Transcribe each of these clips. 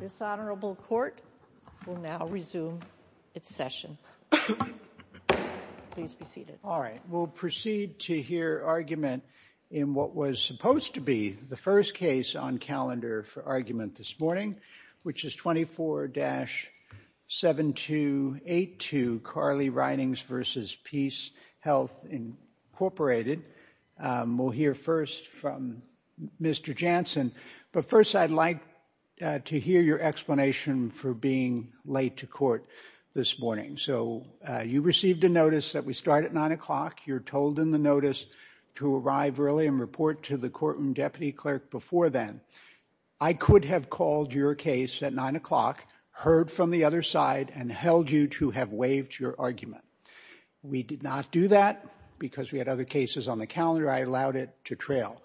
This Honorable Court will now resume its session. Please be seated. All right, we'll proceed to hear argument in what was supposed to be the first case on calendar for argument this morning, which is 24-7282 Carly Ridings v. PeaceHealth, Inc. We'll hear first from Mr. Jansen. But first, I'd like to hear your explanation for being late to court this morning. So you received a notice that we start at 9 o'clock. You're told in the notice to arrive early and report to the courtroom deputy clerk before then. I could have called your case at 9 o'clock, heard from the other side, and held you to have waived your argument. We did not do that because we had other cases on the calendar. I allowed it to trail.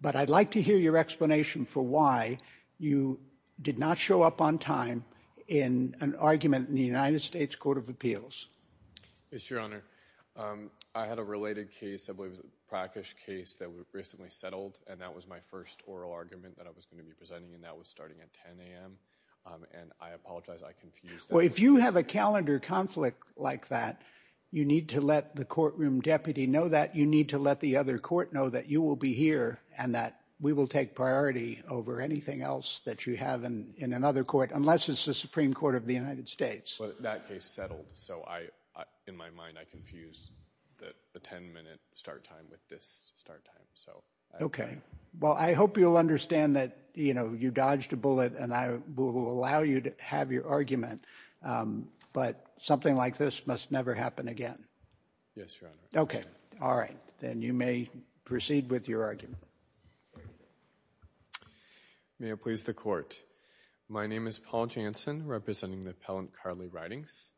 But I'd like to hear your explanation for why you did not show up on time in an argument in the United States Court of Appeals. Mr. Your Honor, I had a related case, I believe it was a practice case that we recently settled, and that was my first oral argument that I was going to be presenting, and that was starting at 10 a.m. And I apologize, I confused that. Well, if you have a calendar conflict like that, you need to let the courtroom deputy know that. You need to let the other court know that you will be here and that we will take priority over anything else that you have in another court, unless it's the Supreme Court of the United States. Well, that case settled, so in my mind I confused the 10-minute start time with this start time. Okay. Well, I hope you'll understand that, you know, you dodged a bullet, and I will allow you to have your argument. But something like this must never happen again. Yes, Your Honor. Okay. All right. Then you may proceed with your argument. May it please the Court. My name is Paul Jansen, representing the appellant Carly Ridings.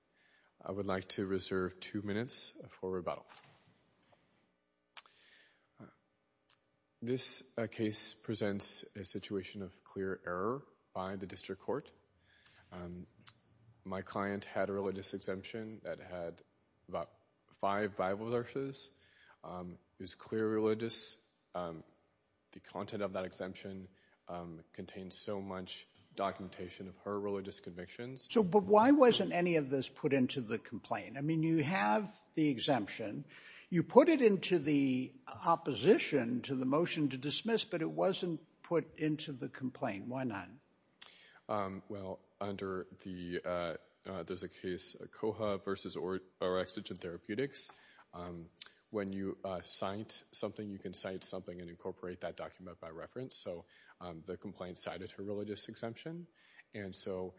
I would like to reserve two minutes for rebuttal. This case presents a situation of clear error by the district court. My client had a religious exemption that had about five Bible verses. It was clear religious. The content of that exemption contained so much documentation of her religious convictions. So why wasn't any of this put into the complaint? I mean, you have the exemption. You put it into the opposition to the motion to dismiss, but it wasn't put into the complaint. Why not? Well, under the case COHA versus Orexigen Therapeutics, when you cite something, you can cite something and incorporate that document by reference. So the complaint cited her religious exemption. And so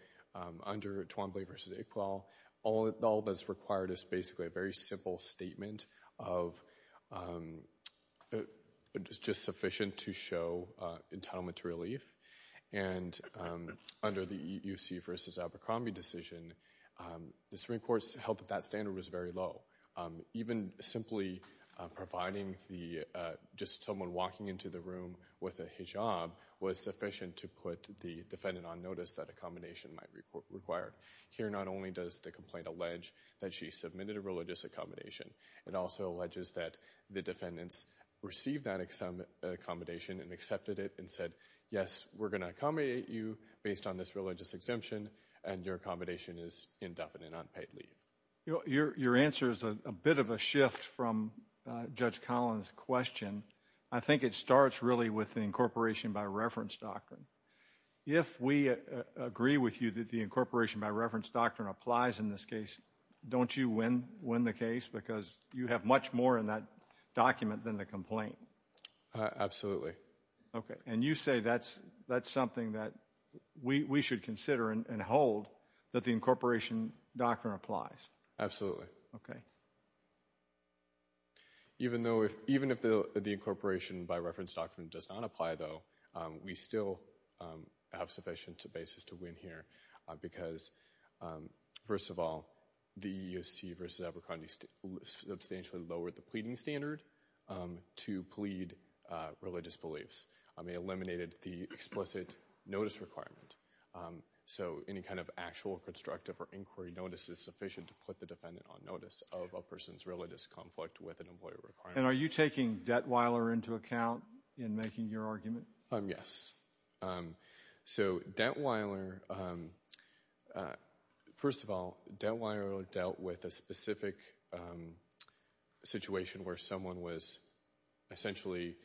under Twombly versus Iqbal, all that's required is basically a very simple statement of just sufficient to show entitlement to relief. And under the EUC versus Abercrombie decision, the Supreme Court held that that standard was very low. Even simply providing just someone walking into the room with a hijab was sufficient to put the defendant on notice that accommodation might be required. Here, not only does the complaint allege that she submitted a religious accommodation, it also alleges that the defendants received that accommodation and accepted it and said, yes, we're going to accommodate you based on this religious exemption and your accommodation is indefinite, unpaid leave. Your answer is a bit of a shift from Judge Collins' question. I think it starts really with the incorporation by reference doctrine. If we agree with you that the incorporation by reference doctrine applies in this case, don't you win the case because you have much more in that document than the complaint? Absolutely. Okay. And you say that's something that we should consider and hold that the incorporation doctrine applies? Absolutely. Okay. Even if the incorporation by reference doctrine does not apply, though, we still have sufficient basis to win here because, first of all, the EEOC versus Abercrombie substantially lowered the pleading standard to plead religious beliefs. It eliminated the explicit notice requirement. So any kind of actual constructive or inquiry notice is sufficient to put the defendant on notice of a person's religious conflict with an employee requirement. And are you taking Detweiler into account in making your argument? Yes. So Detweiler, first of all, Detweiler dealt with a specific situation where someone was essentially,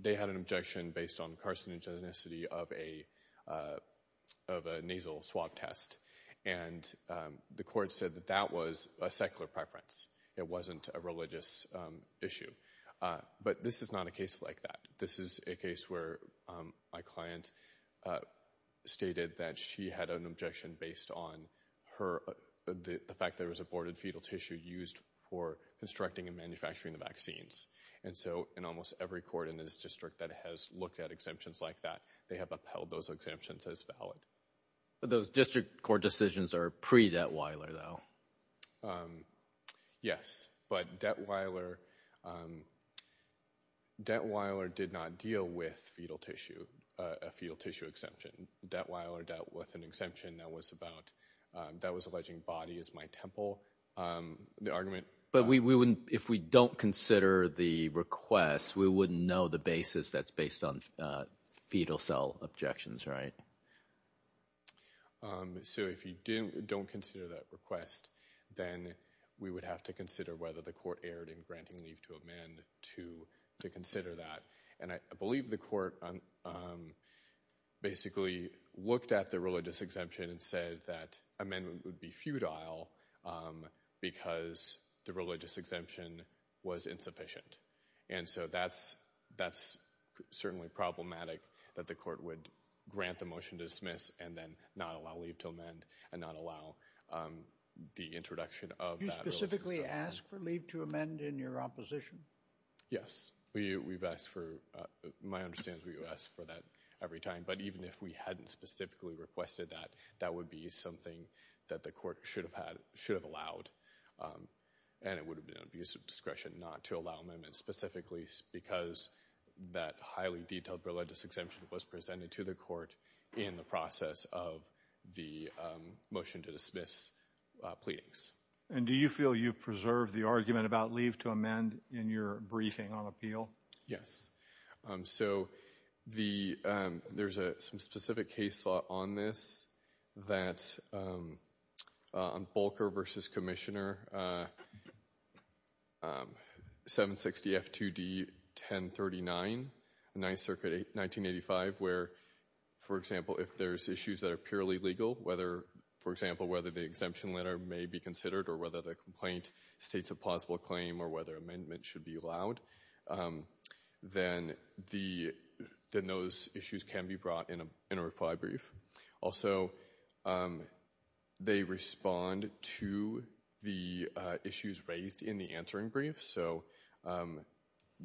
they had an objection based on carcinogenicity of a nasal swab test. And the court said that that was a secular preference. It wasn't a religious issue. But this is not a case like that. This is a case where my client stated that she had an objection based on her, the fact there was aborted fetal tissue used for constructing and manufacturing the vaccines. And so in almost every court in this district that has looked at exemptions like that, they have upheld those exemptions as valid. But those district court decisions are pre-Detweiler, though. Yes. But Detweiler, Detweiler did not deal with fetal tissue, a fetal tissue exemption. Detweiler dealt with an exemption that was about, that was alleging body is my temple. But we wouldn't, if we don't consider the request, we wouldn't know the basis that's based on fetal cell objections, right? So if you don't consider that request, then we would have to consider whether the court erred in granting leave to amend to consider that. And I believe the court basically looked at the religious exemption and said that amendment would be futile because the religious exemption was insufficient. And so that's certainly problematic that the court would grant the motion to dismiss and then not allow leave to amend and not allow the introduction of that religious exemption. Did you specifically ask for leave to amend in your opposition? Yes. We've asked for, my understanding is we've asked for that every time. But even if we hadn't specifically requested that, that would be something that the court should have allowed. And it would have been an abuse of discretion not to allow amendments specifically because that highly detailed religious exemption was presented to the court in the process of the motion to dismiss pleadings. And do you feel you've preserved the argument about leave to amend in your briefing on appeal? Yes. So there's some specific case law on this that on Bolker v. Commissioner 760F2D1039, 9th Circuit, 1985, where, for example, if there's issues that are purely legal, whether, for example, whether the exemption letter may be considered or whether the complaint states a plausible claim or whether amendment should be allowed, then those issues can be brought in a required brief. Also, they respond to the issues raised in the answering brief. So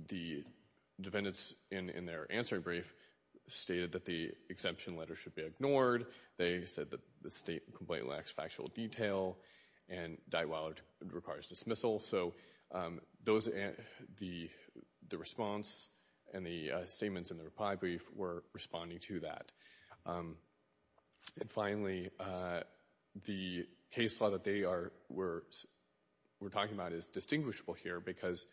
the defendants in their answering brief stated that the exemption letter should be ignored. They said that the complaint lacks factual detail and requires dismissal. So the response and the statements in the reply brief were responding to that. And finally, the case law that they were talking about is distinguishable here because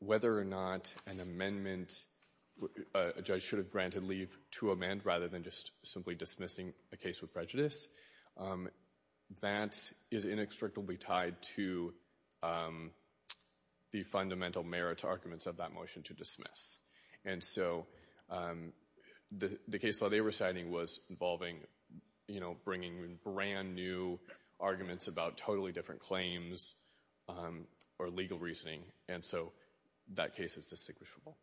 whether or not an amendment a judge should have granted leave to amend rather than just simply dismissing a case with prejudice, that is inextricably tied to the fundamental merits arguments of that motion to dismiss. And so the case law they were citing was involving, you know, bringing in brand new arguments about totally different claims or legal reasoning. And so that case is distinguishable.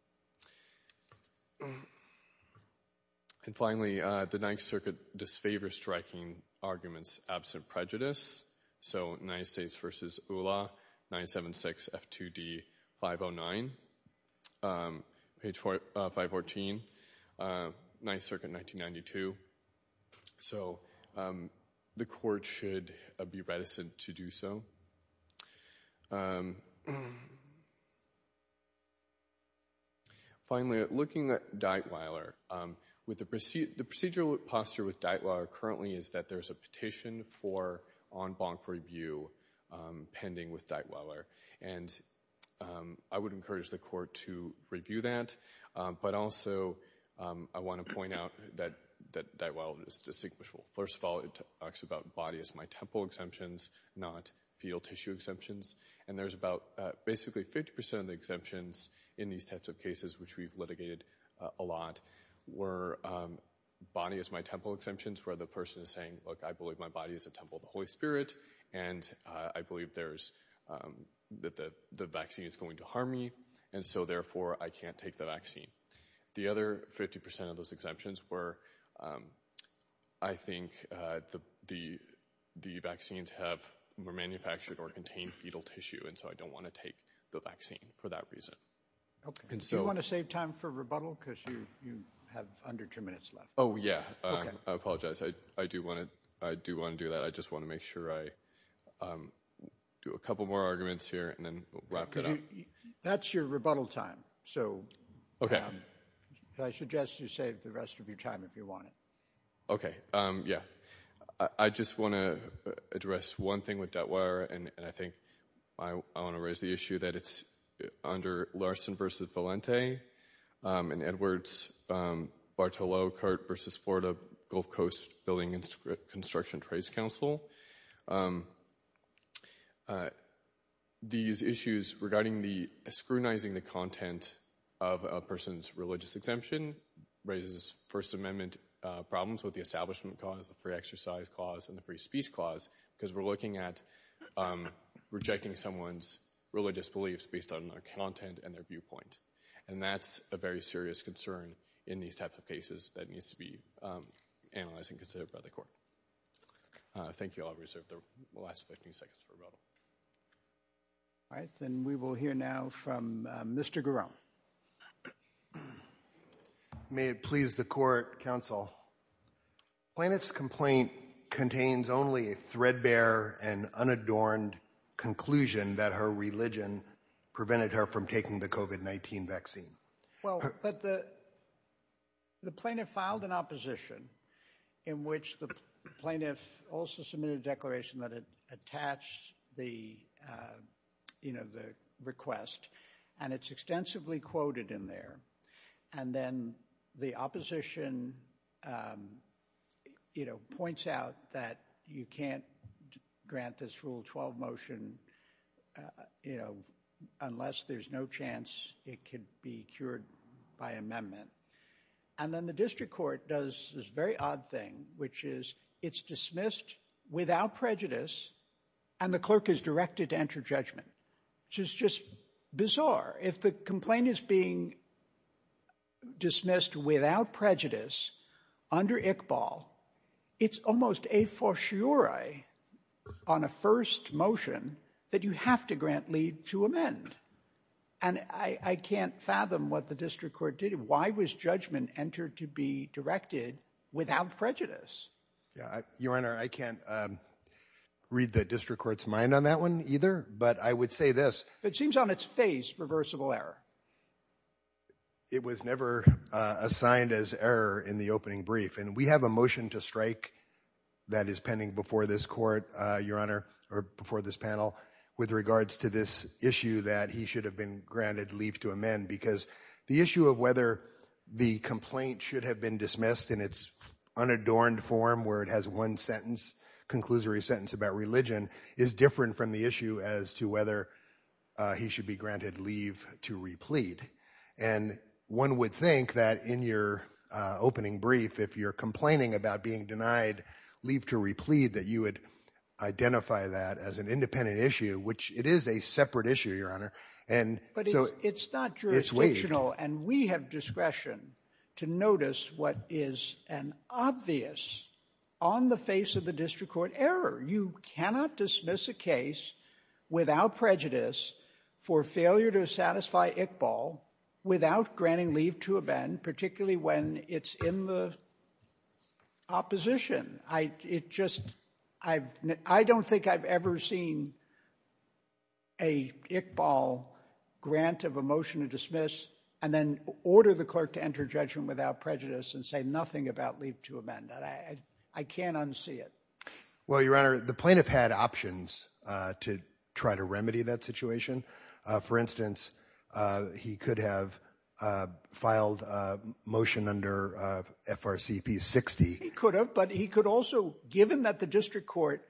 And finally, the Ninth Circuit disfavors striking arguments absent prejudice. So United States v. ULA 976 F2D 509, page 514, Ninth Circuit 1992. So the court should be reticent to do so. Finally, looking at Dightweiler, the procedural posture with Dightweiler currently is that there's a petition for en banc review pending with Dightweiler. And I would encourage the court to review that. But also I want to point out that Dightweiler is distinguishable. First of all, it talks about body as my temple exemptions, not fetal tissue exemptions. And there's about basically 50 percent of the exemptions in these types of cases, which we've litigated a lot, were body as my temple exemptions, where the person is saying, look, I believe my body is a temple of the Holy Spirit. And I believe there's that the vaccine is going to harm me. And so, therefore, I can't take the vaccine. The other 50 percent of those exemptions were, I think the vaccines were manufactured or contained fetal tissue. And so I don't want to take the vaccine for that reason. Do you want to save time for rebuttal? Because you have under two minutes left. Oh, yeah. I apologize. I do want to do that. I just want to make sure I do a couple more arguments here and then wrap it up. That's your rebuttal time. So, OK, I suggest you save the rest of your time if you want it. OK. Yeah. I just want to address one thing with that wire. And I think I want to raise the issue that it's under Larson versus Valente and Edwards, Bartolo Kurt versus Florida Gulf Coast Building and Construction Trades Council. These issues regarding the scrutinizing the content of a person's religious exemption raises First Amendment problems with the establishment cause, the free exercise clause and the free speech clause, because we're looking at rejecting someone's religious beliefs based on their content and their viewpoint. And that's a very serious concern in these types of cases that needs to be analyzed and considered by the court. Thank you. I'll reserve the last 15 seconds for rebuttal. All right, then we will hear now from Mr. Garone. May it please the court, counsel. Plaintiff's complaint contains only a threadbare and unadorned conclusion that her religion prevented her from taking the COVID-19 vaccine. Well, but the the plaintiff filed an opposition in which the plaintiff also submitted a declaration that it attached the, you know, the request. And it's extensively quoted in there. And then the opposition, you know, by amendment. And then the district court does this very odd thing, which is it's dismissed without prejudice. And the clerk is directed to enter judgment, which is just bizarre. If the complaint is being dismissed without prejudice under Iqbal, it's almost a fortiori on a first motion that you have to grant leave to amend. And I can't fathom what the district court did. Why was judgment entered to be directed without prejudice? Your Honor, I can't read the district court's mind on that one either. But I would say this. It seems on its face reversible error. It was never assigned as error in the opening brief. And we have a motion to strike that is pending before this court, Your Honor, or before this panel with regards to this issue that he should have been granted leave to amend, because the issue of whether the complaint should have been dismissed in its unadorned form where it has one sentence, conclusory sentence about religion is different from the issue as to whether he should be granted leave to replete. And one would think that in your opening brief, if you're complaining about being denied leave to replete, that you would identify that as an independent issue, which it is a separate issue, Your Honor. But it's not jurisdictional, and we have discretion to notice what is an obvious on the face of the district court error. You cannot dismiss a case without prejudice for failure to satisfy Iqbal without granting leave to amend, particularly when it's in the opposition. I don't think I've ever seen an Iqbal grant of a motion to dismiss and then order the clerk to enter judgment without prejudice and say nothing about leave to amend. I can't unsee it. Well, Your Honor, the plaintiff had options to try to remedy that situation. For instance, he could have filed a motion under FRCP 60. He could have, but he could also, given that the district court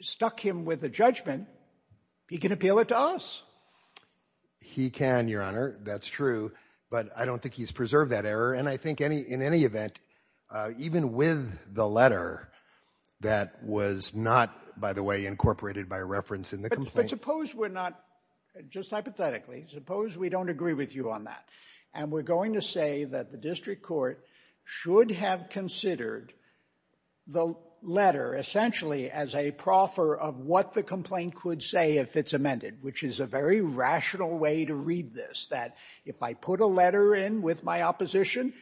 stuck him with a judgment, he can appeal it to us. He can, Your Honor. That's true. But I don't think he's preserved that error. And I think in any event, even with the letter that was not, by the way, incorporated by reference in the complaint. But suppose we're not, just hypothetically, suppose we don't agree with you on that, and we're going to say that the district court should have considered the letter essentially as a proffer of what the complaint could say if it's amended, which is a very rational way to read this, that if I put a letter in with my opposition,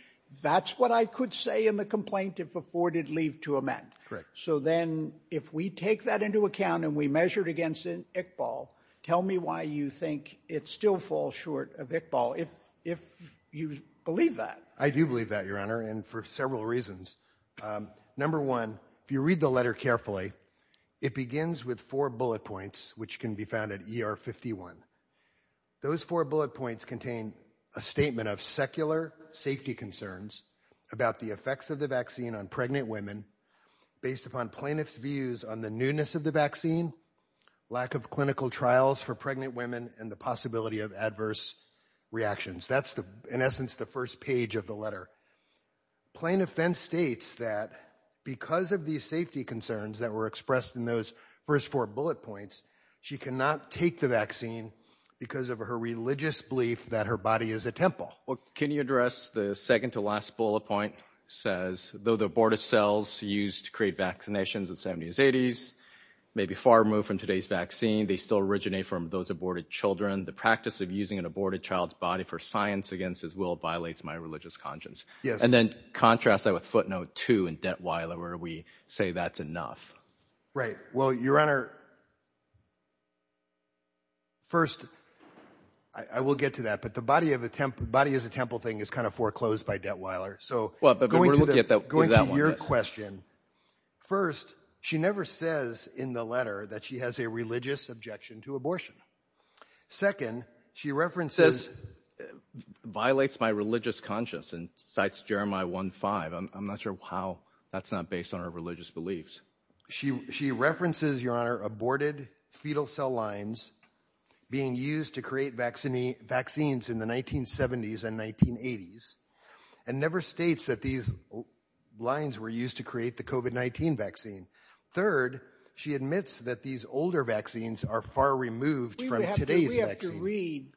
that's what I could say in the complaint if afforded leave to amend. Correct. So then if we take that into account and we measure it against Iqbal, tell me why you think it still falls short of Iqbal, if you believe that. I do believe that, Your Honor, and for several reasons. Number one, if you read the letter carefully, it begins with four bullet points, which can be found at ER 51. Those four bullet points contain a statement of secular safety concerns about the effects of the vaccine on pregnant women based upon plaintiff's views on the newness of the vaccine, lack of clinical trials for pregnant women, and the possibility of adverse reactions. That's, in essence, the first page of the letter. Plaintiff then states that because of these safety concerns that were expressed in those first four bullet points, she cannot take the vaccine because of her religious belief that her body is a temple. Well, can you address the second to last bullet point? It says, though the aborted cells used to create vaccinations in the 70s and 80s may be far removed from today's vaccine, they still originate from those aborted children. The practice of using an aborted child's body for science against his will violates my religious conscience. And then contrast that with footnote two in Detweiler where we say that's enough. Right. Well, Your Honor, first, I will get to that, but the body is a temple thing is kind of foreclosed by Detweiler. So going to your question, first, she never says in the letter that she has a religious objection to abortion. Second, she references violates my religious conscience and cites Jeremiah one five. I'm not sure how that's not based on our religious beliefs. She she references, Your Honor, aborted fetal cell lines being used to create vaccine vaccines in the 1970s and 1980s and never states that these lines were used to create the COVID-19 vaccine. Third, she admits that these older vaccines are far removed from today's. We have to read,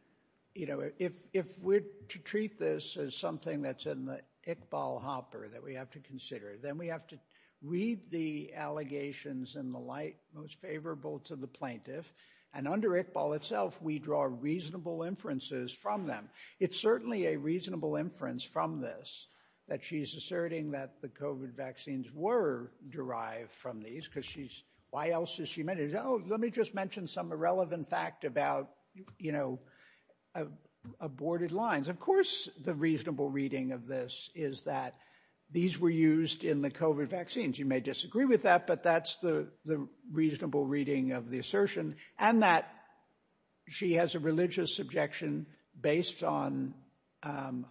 you know, if if we're to treat this as something that's in the Iqbal hopper that we have to consider, then we have to read the allegations in the light most favorable to the plaintiff. And under Iqbal itself, we draw reasonable inferences from them. It's certainly a reasonable inference from this that she's asserting that the COVID vaccines were derived from these because she's. Why else is she made? Oh, let me just mention some irrelevant fact about, you know, aborted lines. Of course, the reasonable reading of this is that these were used in the COVID vaccines. You may disagree with that, but that's the the reasonable reading of the assertion. And that she has a religious objection based on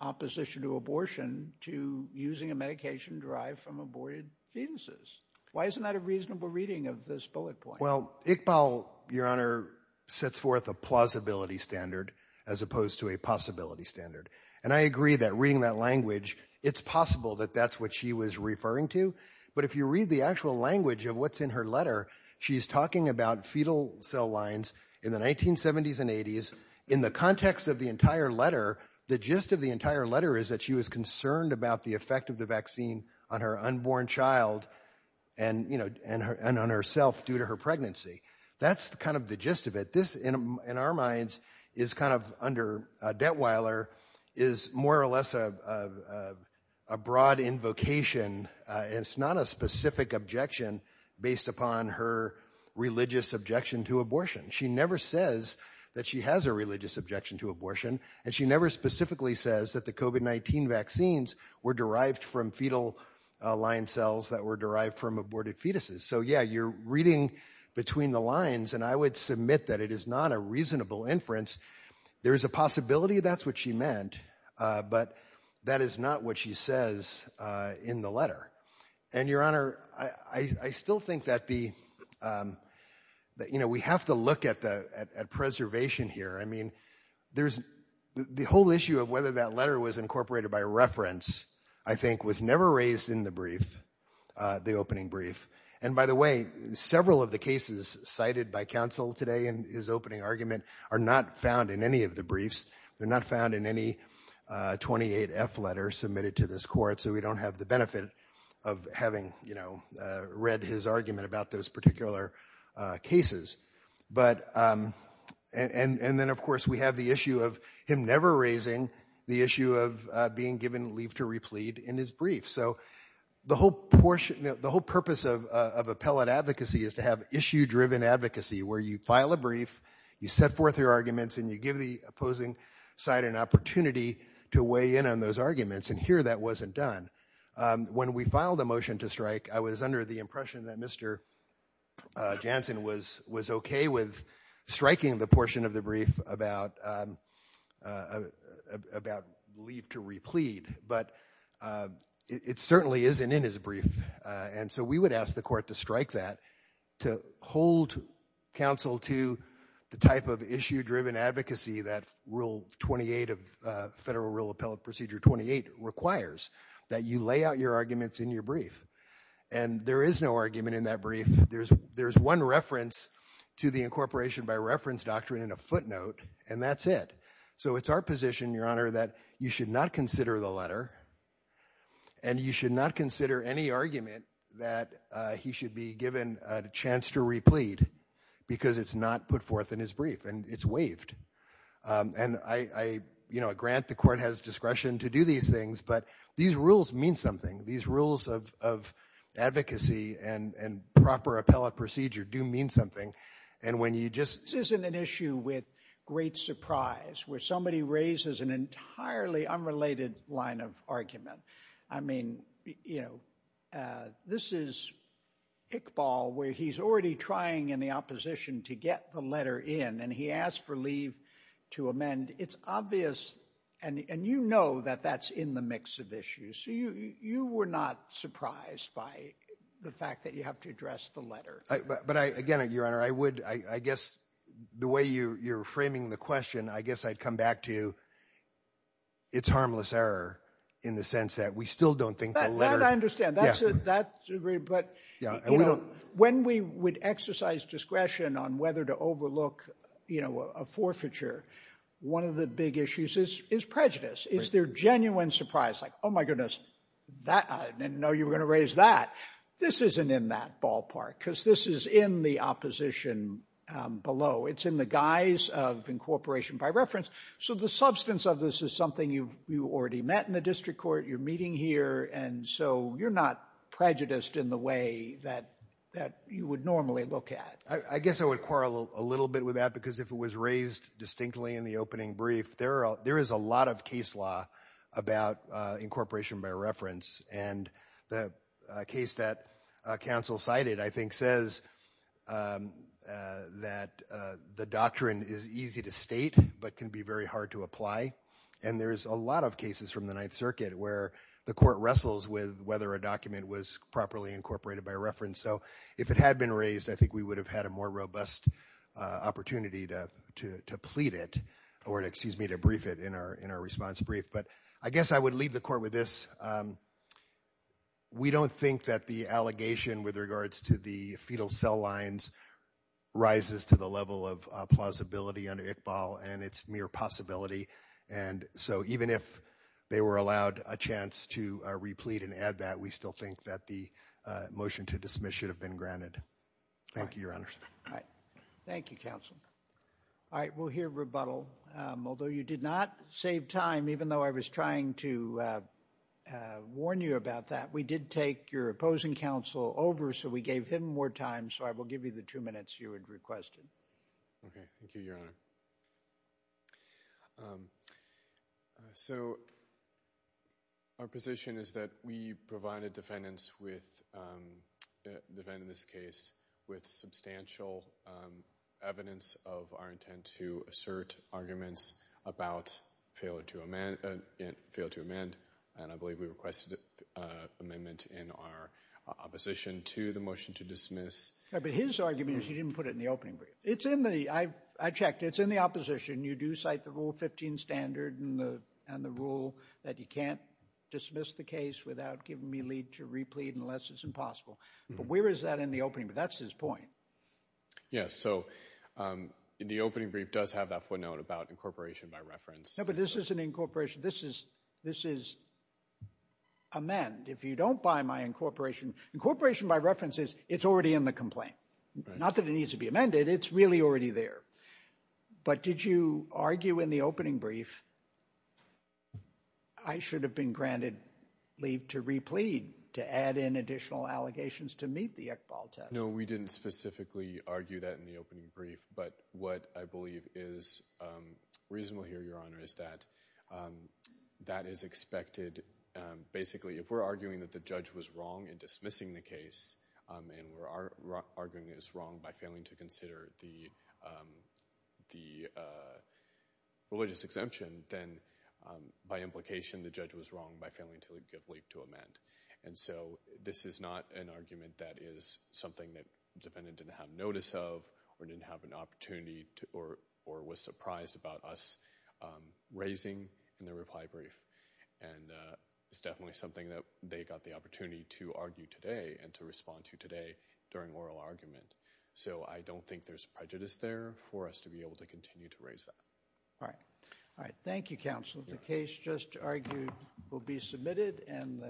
opposition to abortion, to using a medication derived from aborted fetuses. Why isn't that a reasonable reading of this bullet point? Well, Iqbal, Your Honor, sets forth a plausibility standard as opposed to a possibility standard. And I agree that reading that language, it's possible that that's what she was referring to. But if you read the actual language of what's in her letter, she's talking about fetal cell lines in the 1970s and 80s. In the context of the entire letter, the gist of the entire letter is that she was concerned about the effect of the vaccine on her unborn child. And, you know, and on herself due to her pregnancy. That's kind of the gist of it. But this, in our minds, is kind of under Dettweiler, is more or less a broad invocation. It's not a specific objection based upon her religious objection to abortion. She never says that she has a religious objection to abortion. And she never specifically says that the COVID-19 vaccines were derived from fetal line cells that were derived from aborted fetuses. So, yeah, you're reading between the lines, and I would submit that it is not a reasonable inference. There is a possibility that's what she meant, but that is not what she says in the letter. And, Your Honor, I still think that the — you know, we have to look at the — at preservation here. I mean, there's — the whole issue of whether that letter was incorporated by reference, I think, was never raised in the brief, the opening brief. And, by the way, several of the cases cited by counsel today in his opening argument are not found in any of the briefs. They're not found in any 28F letter submitted to this court. So we don't have the benefit of having, you know, read his argument about those particular cases. But — and then, of course, we have the issue of him never raising the issue of being given leave to replete in his brief. So the whole portion — the whole purpose of appellate advocacy is to have issue-driven advocacy, where you file a brief, you set forth your arguments, and you give the opposing side an opportunity to weigh in on those arguments. And here that wasn't done. When we filed a motion to strike, I was under the impression that Mr. Jansen was okay with striking the portion of the brief about leave to replete. But it certainly isn't in his brief. And so we would ask the court to strike that, to hold counsel to the type of issue-driven advocacy that Rule 28 of Federal Rule Appellate Procedure 28 requires, that you lay out your arguments in your brief. And there is no argument in that brief. There's one reference to the incorporation by reference doctrine in a footnote, and that's it. So it's our position, Your Honor, that you should not consider the letter, and you should not consider any argument that he should be given a chance to replete because it's not put forth in his brief. And it's waived. And I grant the court has discretion to do these things, but these rules mean something. These rules of advocacy and proper appellate procedure do mean something. This isn't an issue with great surprise, where somebody raises an entirely unrelated line of argument. I mean, you know, this is Iqbal, where he's already trying in the opposition to get the letter in, and he asked for leave to amend. It's obvious, and you know that that's in the mix of issues. So you were not surprised by the fact that you have to address the letter. But, again, Your Honor, I would, I guess the way you're framing the question, I guess I'd come back to it's harmless error in the sense that we still don't think the letter. That I understand. That's agreed. But, you know, when we would exercise discretion on whether to overlook, you know, a forfeiture, one of the big issues is prejudice. Is there genuine surprise, like, oh, my goodness, I didn't know you were going to raise that. This isn't in that ballpark, because this is in the opposition below. It's in the guise of incorporation by reference. So the substance of this is something you've already met in the district court. You're meeting here. And so you're not prejudiced in the way that you would normally look at. I guess I would quarrel a little bit with that, because if it was raised distinctly in the opening brief, there is a lot of case law about incorporation by reference. And the case that counsel cited, I think, says that the doctrine is easy to state but can be very hard to apply. And there is a lot of cases from the Ninth Circuit where the court wrestles with whether a document was properly incorporated by reference. So if it had been raised, I think we would have had a more robust opportunity to plead it or, excuse me, to brief it in our response brief. But I guess I would leave the court with this. We don't think that the allegation with regards to the fetal cell lines rises to the level of plausibility under Iqbal and its mere possibility. And so even if they were allowed a chance to replete and add that, we still think that the motion to dismiss should have been granted. Thank you, Your Honors. Thank you, counsel. All right, we'll hear rebuttal. Although you did not save time, even though I was trying to warn you about that, we did take your opposing counsel over, so we gave him more time. So I will give you the two minutes you had requested. Okay, thank you, Your Honor. So our position is that we provided defendants in this case with substantial evidence of our intent to assert arguments about failure to amend. And I believe we requested an amendment in our opposition to the motion to dismiss. But his argument is he didn't put it in the opening brief. It's in the—I checked. It's in the opposition. You do cite the Rule 15 standard and the rule that you can't dismiss the case without giving me a lead to replete unless it's impossible. But where is that in the opening brief? That's his point. Yes, so the opening brief does have that footnote about incorporation by reference. No, but this isn't incorporation. This is amend. If you don't buy my incorporation—incorporation by reference is it's already in the complaint. Not that it needs to be amended. It's really already there. But did you argue in the opening brief I should have been granted leave to replete, to add in additional allegations to meet the Iqbal test? No, we didn't specifically argue that in the opening brief. But what I believe is reasonable here, Your Honor, is that that is expected. And basically, if we're arguing that the judge was wrong in dismissing the case and we're arguing it was wrong by failing to consider the religious exemption, then by implication the judge was wrong by failing to give leave to amend. And so this is not an argument that is something that the defendant didn't have notice of or didn't have an opportunity or was surprised about us raising in the reply brief. And it's definitely something that they got the opportunity to argue today and to respond to today during oral argument. So I don't think there's prejudice there for us to be able to continue to raise that. All right. All right. Thank you, counsel. The case just argued will be submitted.